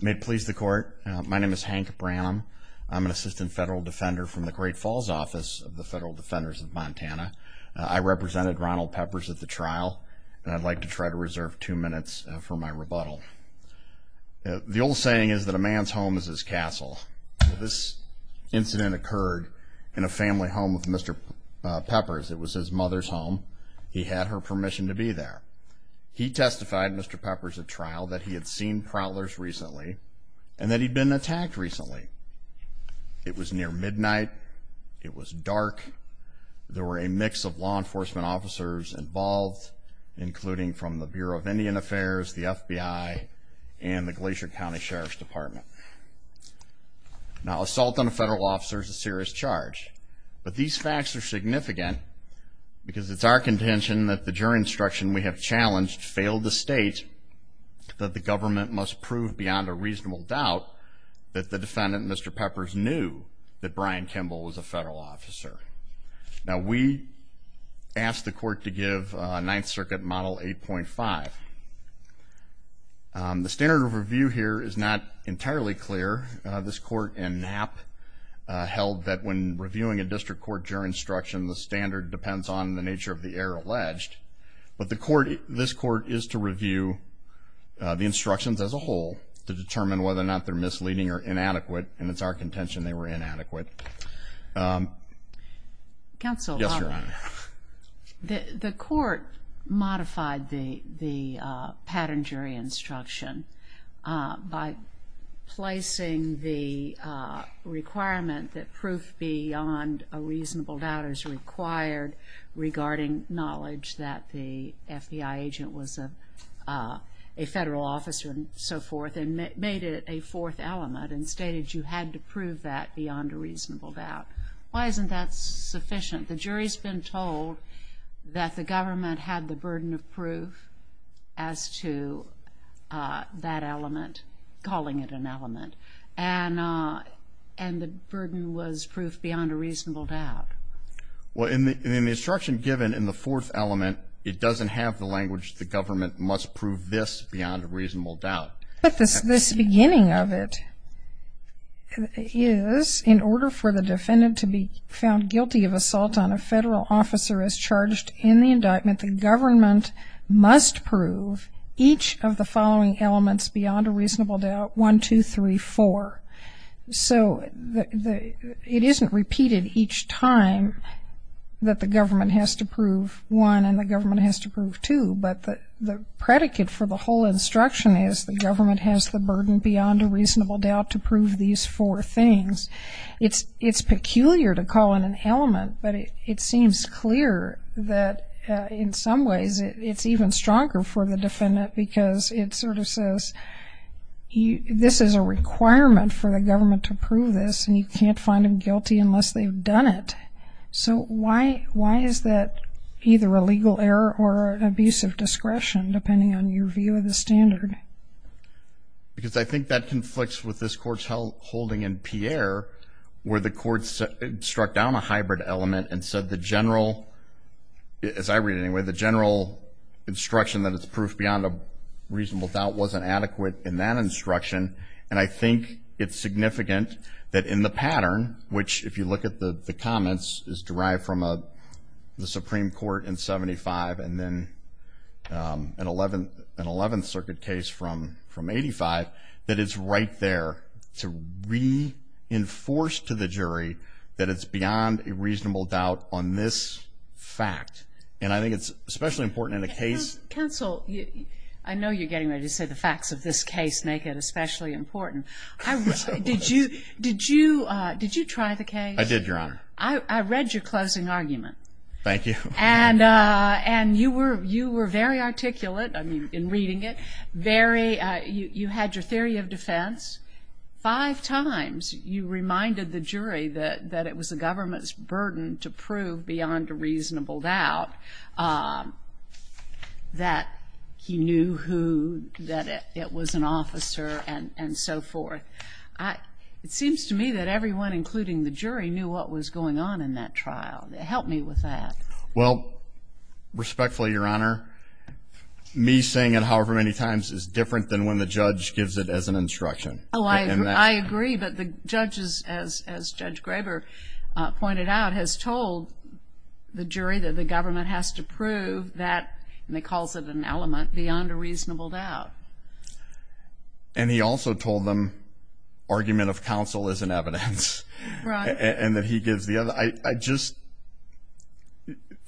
May it please the court. My name is Hank Branham. I'm an assistant federal defender from the Great Falls office of the Federal Defenders of Montana. I represented Ronald Peppers at the trial and I'd like to try to reserve two minutes for my rebuttal. The old saying is that a man's home is his castle. This incident occurred in a family home of Mr. Peppers. It was his mother's home. He had her permission to be there. He testified, Mr. Peppers, at trial that he had seen prowlers recently and that he'd been attacked recently. It was near midnight. It was dark. There were a mix of law enforcement officers involved, including from the Bureau of Indian Affairs, the FBI, and the Glacier County Sheriff's Department. Now, assault on a federal officer is a serious charge, but these facts are significant because it's our contention that the jury instruction we have challenged failed to state that the government must prove beyond a reasonable doubt that the defendant, Mr. Peppers, knew that Brian Kimball was a federal officer. Now, we asked the court to give Ninth Circuit Model 8.5. The standard of review here is not entirely clear. This court in Knapp held that when reviewing a district court jury instruction, the standard depends on the nature of the error alleged, but this court is to review the instructions as a whole to determine whether or not they're misleading or inadequate, and it's our contention they were inadequate. Yes, Your Honor. The court modified the pattern jury instruction by placing the requirement that proof beyond a reasonable doubt is required regarding knowledge that the FBI agent was a federal officer and so forth, and made it a fourth element and stated you had to prove that beyond a reasonable doubt. Why isn't that sufficient? The jury's been told that the government had the burden of proof as to that element, calling it an element, and the burden was proof beyond a reasonable doubt. Well, in the instruction given in the fourth element, it doesn't have the language the government must prove this beyond a reasonable doubt. But this beginning of it is, in order for the defendant to be found guilty of assault on a federal officer as charged in the indictment, the government must prove each of the following elements beyond a reasonable doubt, one, two, three, four. So it isn't repeated each time that the government has to prove one and the government has to prove two, but the predicate for the whole instruction is the government has the burden beyond a reasonable doubt to prove these four things. It's peculiar to call it an element, but it seems clear that in some ways it's even stronger for the defendant because it sort of says this is a requirement for the government to prove this and you can't find them guilty unless they've done it. So why is that either a legal error or an abuse of discretion depending on your view of the standard? Because I think that conflicts with this court's holding in Pierre where the court struck down a hybrid element and said the general, as I read it anyway, the general instruction that it's proof beyond a reasonable doubt wasn't adequate in that instruction. And I think it's significant that in the pattern, which if you look at the comments is derived from the Supreme Court in 75 and then an 11th Circuit case from 85, that it's right there to reinforce to the jury that it's beyond a reasonable doubt on this fact. And I think it's especially important in a case. Counsel, I know you're getting ready to say the facts of this case make it especially important. Did you try the case? I did, Your Honor. I read your closing argument. Thank you. And you were very articulate in reading it. You had your theory of defense. Five times you reminded the jury that it was the government's burden to prove beyond a reasonable doubt that he knew who, that it was an officer and so forth. It seems to me that everyone, including the jury, knew what was going on in that trial. Help me with that. Well, respectfully, Your Honor, me saying it however many times is different than when the judge gives it as an instruction. Oh, I agree. But the judge, as Judge Graber pointed out, has told the jury that the government has to prove that, and he calls it an element, beyond a reasonable doubt. And he also told them argument of counsel isn't evidence. Right. And that he gives the other. I just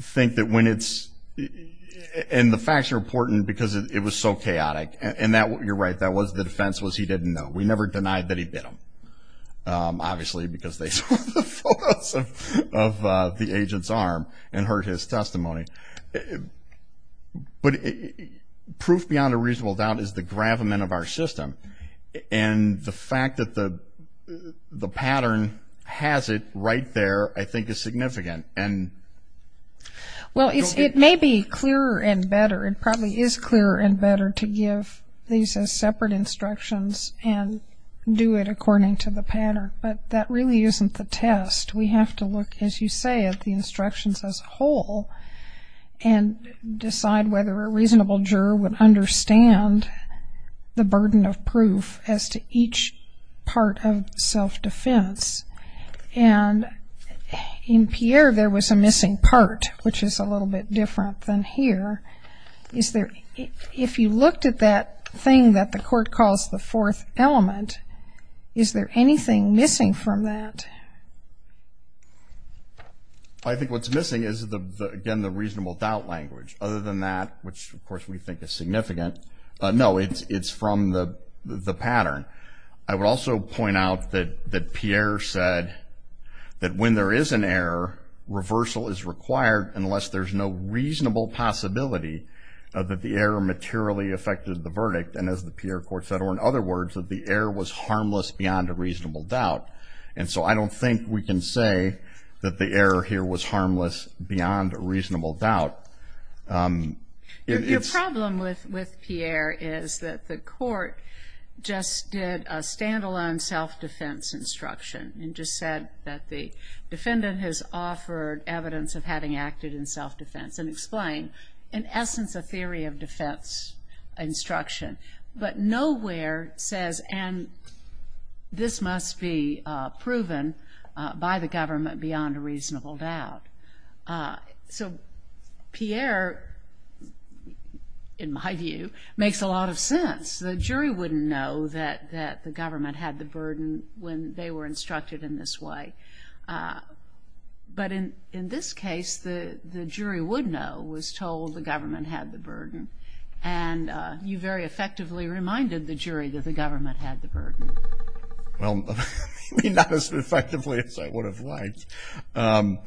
think that when it's – and the facts are important because it was so chaotic, and you're right, the defense was he didn't know. We never denied that he bit him, obviously, because they saw the photos of the agent's arm and heard his testimony. But proof beyond a reasonable doubt is the gravamen of our system. And the fact that the pattern has it right there I think is significant. Well, it may be clearer and better, it probably is clearer and better to give these as separate instructions and do it according to the pattern, but that really isn't the test. We have to look, as you say, at the instructions as a whole and decide whether a reasonable juror would understand the burden of proof as to each part of self-defense. And in Pierre, there was a missing part, which is a little bit different than here. Is there – if you looked at that thing that the court calls the fourth element, is there anything missing from that? I think what's missing is, again, the reasonable doubt language. Other than that, which of course we think is significant, no, it's from the pattern. I would also point out that Pierre said that when there is an error, reversal is required unless there's no reasonable possibility that the error materially affected the verdict. And as the Pierre court said, or in other words, that the error was harmless beyond a reasonable doubt. And so I don't think we can say that the error here was harmless beyond a reasonable doubt. Your problem with Pierre is that the court just did a stand-alone self-defense instruction and just said that the defendant has offered evidence of having acted in self-defense and explained, in essence, a theory of defense instruction. But nowhere says, and this must be proven by the government beyond a reasonable doubt. So Pierre, in my view, makes a lot of sense. The jury wouldn't know that the government had the burden when they were instructed in this way. But in this case, the jury would know, was told the government had the burden. And you very effectively reminded the jury that the government had the burden. Well, maybe not as effectively as I would have liked. But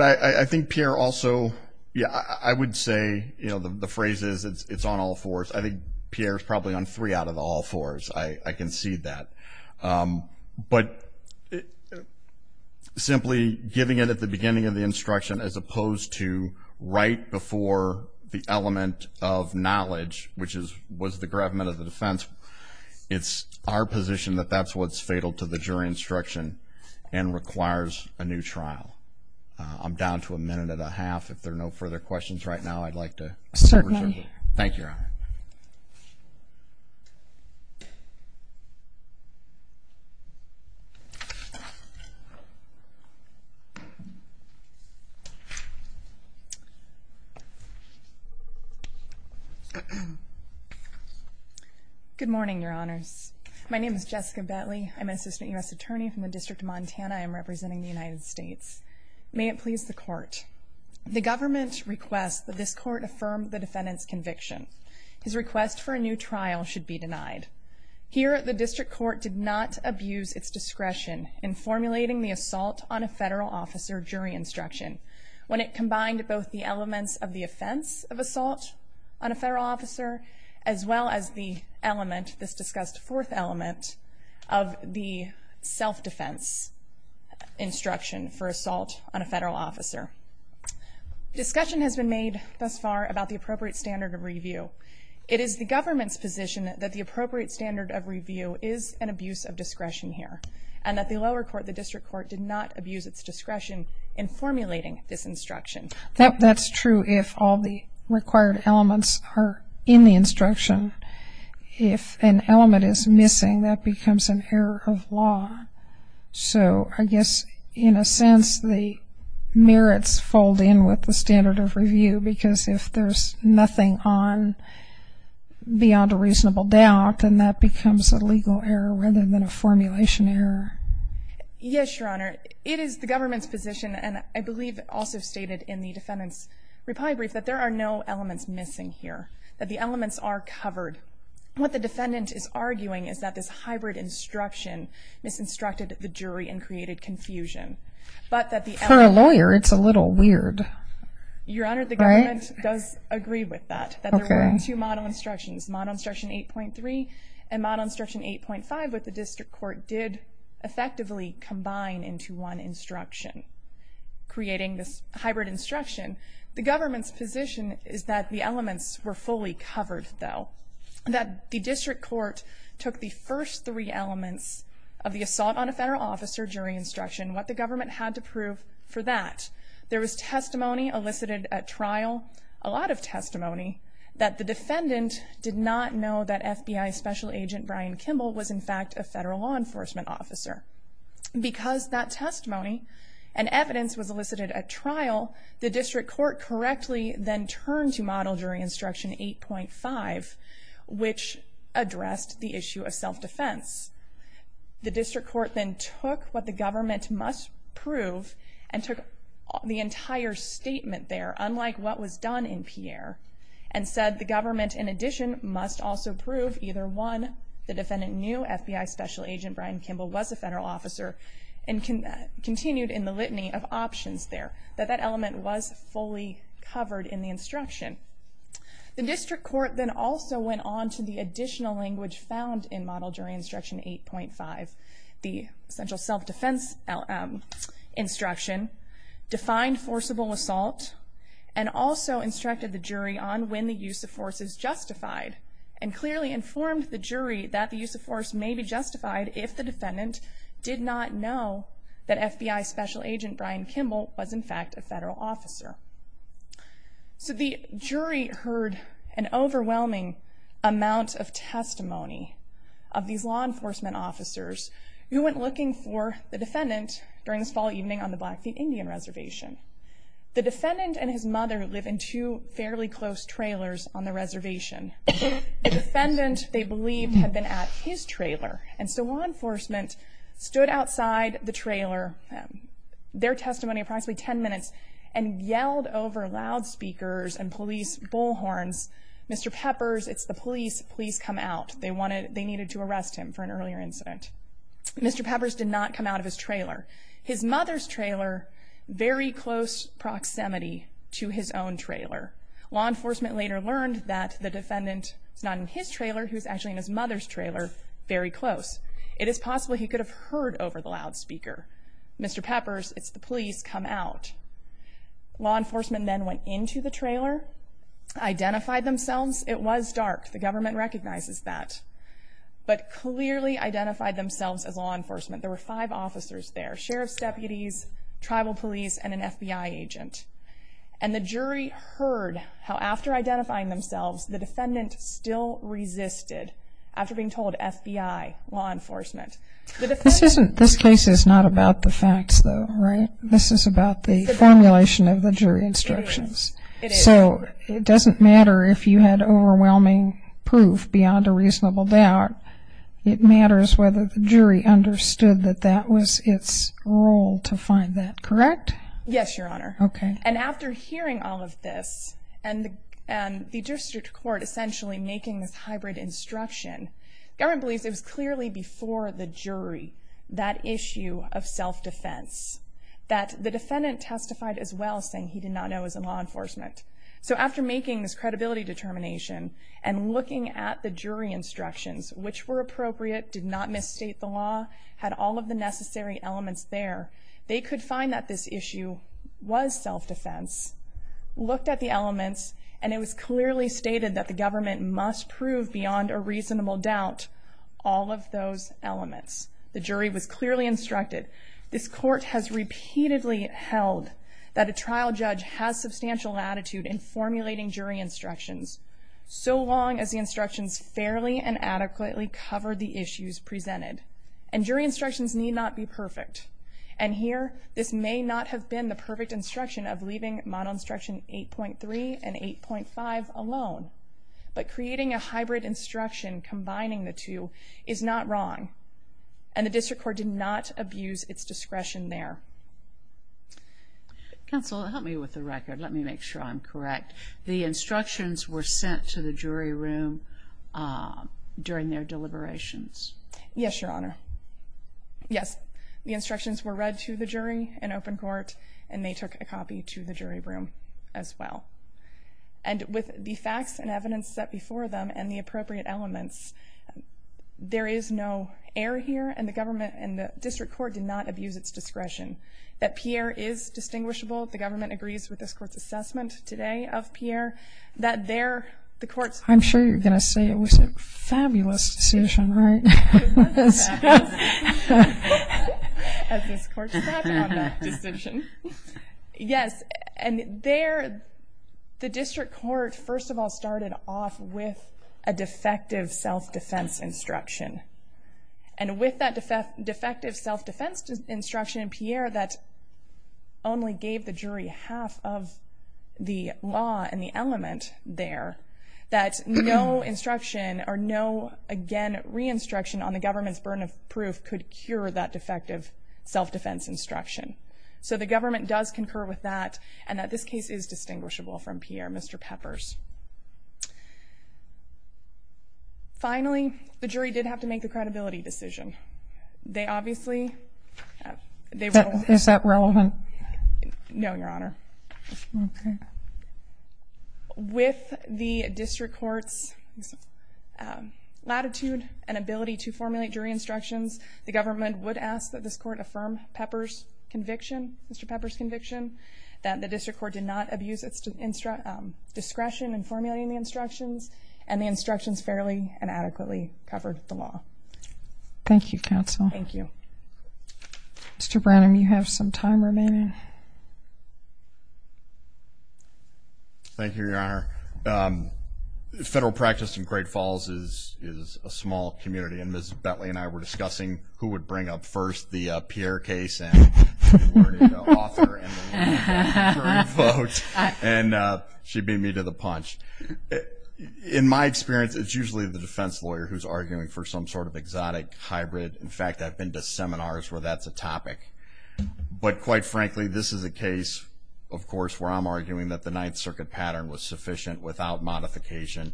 I think Pierre also, yeah, I would say, you know, the phrase is, it's on all fours. I think Pierre is probably on three out of all fours. I can see that. But simply giving it at the beginning of the instruction as opposed to right before the element of knowledge, which was the gravamen of the defense, it's our position that that's what's fatal to the jury instruction and requires a new trial. I'm down to a minute and a half. If there are no further questions right now, I'd like to reserve it. Certainly. Thank you, Your Honor. Good morning, Your Honors. My name is Jessica Bentley. I'm an assistant U.S. attorney from the District of Montana. I am representing the United States. May it please the Court. The government requests that this court affirm the defendant's conviction. His request for a new trial should be denied. Here, the district court did not abuse its discretion in formulating the assault on a federal officer jury instruction when it combined both the elements of the offense of assault on a federal officer as well as the element, this discussed fourth element, of the self-defense instruction for assault on a federal officer. Discussion has been made thus far about the appropriate standard of review. It is the government's position that the appropriate standard of review is an abuse of discretion here and that the lower court, the district court, did not abuse its discretion in formulating this instruction. That's true if all the required elements are in the instruction. If an element is missing, that becomes an error of law. So I guess, in a sense, the merits fold in with the standard of review because if there's nothing beyond a reasonable doubt, then that becomes a legal error rather than a formulation error. Yes, Your Honor. It is the government's position, and I believe also stated in the defendant's reply brief, that there are no elements missing here, that the elements are covered. What the defendant is arguing is that this hybrid instruction misinstructed the jury and created confusion. For a lawyer, it's a little weird. Your Honor, the government does agree with that, that there were two model instructions, model instruction 8.3 and model instruction 8.5, but the district court did effectively combine into one instruction, creating this hybrid instruction. The government's position is that the elements were fully covered, though, that the district court took the first three elements of the assault on a federal officer jury instruction, what the government had to prove for that. There was testimony elicited at trial, a lot of testimony, that the defendant did not know that FBI Special Agent Brian Kimball was, in fact, a federal law enforcement officer. Because that testimony and evidence was elicited at trial, the district court correctly then turned to model jury instruction 8.5, which addressed the issue of self-defense. The district court then took what the government must prove and took the entire statement there, unlike what was done in Pierre, and said the government, in addition, must also prove either one, the defendant knew FBI Special Agent Brian Kimball was a federal officer and continued in the litany of options there, that that element was fully covered in the instruction. The district court then also went on to the additional language found in model jury instruction 8.5, the essential self-defense instruction, defined forcible assault, and also instructed the jury on when the use of force is justified, and clearly informed the jury that the use of force may be justified if the defendant did not know that FBI Special Agent Brian Kimball was, in fact, a federal officer. So the jury heard an overwhelming amount of testimony of these law enforcement officers who went looking for the defendant during this fall evening on the Blackfeet Indian Reservation. The defendant and his mother live in two fairly close trailers on the reservation. The defendant, they believed, had been at his trailer, and so law enforcement stood outside the trailer, their testimony approximately ten minutes, and yelled over loudspeakers and police bullhorns, Mr. Peppers, it's the police, please come out. They needed to arrest him for an earlier incident. Mr. Peppers did not come out of his trailer. His mother's trailer, very close proximity to his own trailer. Law enforcement later learned that the defendant was not in his trailer, he was actually in his mother's trailer, very close. It is possible he could have heard over the loudspeaker, Mr. Peppers, it's the police, come out. Law enforcement then went into the trailer, identified themselves, it was dark, the government recognizes that, but clearly identified themselves as law enforcement. There were five officers there, sheriff's deputies, tribal police, and an FBI agent. And the jury heard how after identifying themselves, the defendant still resisted after being told FBI, law enforcement. This case is not about the facts though, right? This is about the formulation of the jury instructions. It is. So it doesn't matter if you had overwhelming proof beyond a reasonable doubt, it matters whether the jury understood that that was its role to find that, correct? Yes, Your Honor. Okay. And after hearing all of this, and the district court essentially making this hybrid instruction, government believes it was clearly before the jury, that issue of self-defense, that the defendant testified as well saying he did not know he was in law enforcement. So after making this credibility determination, and looking at the jury instructions, which were appropriate, did not misstate the law, had all of the necessary elements there, they could find that this issue was self-defense, looked at the elements, and it was clearly stated that the government must prove beyond a reasonable doubt all of those elements. The jury was clearly instructed. This court has repeatedly held that a trial judge has substantial latitude in formulating jury instructions, so long as the instructions fairly and adequately cover the issues presented. And jury instructions need not be perfect. And here, this may not have been the perfect instruction of leaving model instruction 8.3 and 8.5 alone, but creating a hybrid instruction combining the two is not wrong, and the district court did not abuse its discretion there. Counsel, help me with the record. Let me make sure I'm correct. The instructions were sent to the jury room during their deliberations. Yes, Your Honor. Yes, the instructions were read to the jury in open court, and they took a copy to the jury room as well. And with the facts and evidence set before them and the appropriate elements, there is no error here, and the government and the district court did not abuse its discretion. That Pierre is distinguishable, the government agrees with this court's assessment today of Pierre, that there the court's. I'm sure you're going to say it was a fabulous decision, right? It was a fabulous decision. As this court sat on that decision. Yes, and there the district court, first of all, started off with a defective self-defense instruction. And with that defective self-defense instruction in Pierre, that only gave the jury half of the law and the element there, that no instruction or no, again, re-instruction on the government's burden of proof could cure that defective self-defense instruction. So the government does concur with that, and that this case is distinguishable from Pierre, Mr. Peppers. Finally, the jury did have to make the credibility decision. They obviously. Is that relevant? No, Your Honor. Okay. With the district court's latitude and ability to formulate jury instructions, the government would ask that this court affirm Peppers' conviction, Mr. Peppers' conviction, that the district court did not abuse its discretion in formulating the instructions, and the instructions fairly and adequately covered the law. Thank you, counsel. Thank you. Mr. Branham, you have some time remaining. Thank you, Your Honor. Federal practice in Great Falls is a small community, and Ms. Bentley and I were discussing who would bring up first the Pierre case, and we were going to go author and jury vote, and she beat me to the punch. In my experience, it's usually the defense lawyer who's arguing for some sort of exotic hybrid. In fact, I've been to seminars where that's a topic. But quite frankly, this is a case, of course, where I'm arguing that the Ninth Circuit pattern was sufficient without modification,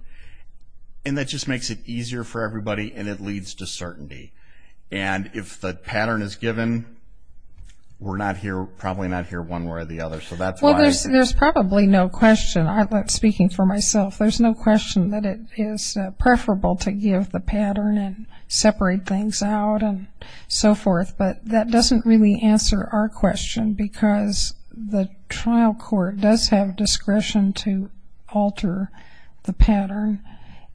and that just makes it easier for everybody, and it leads to certainty. And if the pattern is given, we're probably not here one way or the other. Well, there's probably no question. Speaking for myself, there's no question that it is preferable to give the But that doesn't really answer our question, because the trial court does have discretion to alter the pattern,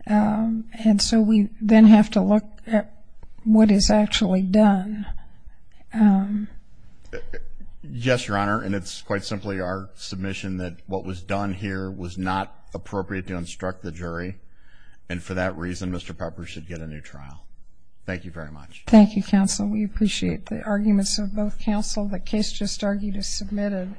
and so we then have to look at what is actually done. Yes, Your Honor, and it's quite simply our submission that what was done here was not appropriate to instruct the jury, and for that reason Mr. Pepper should get a new trial. Thank you very much. Thank you, counsel. We appreciate the arguments of both counsel. The case just argued is submitted.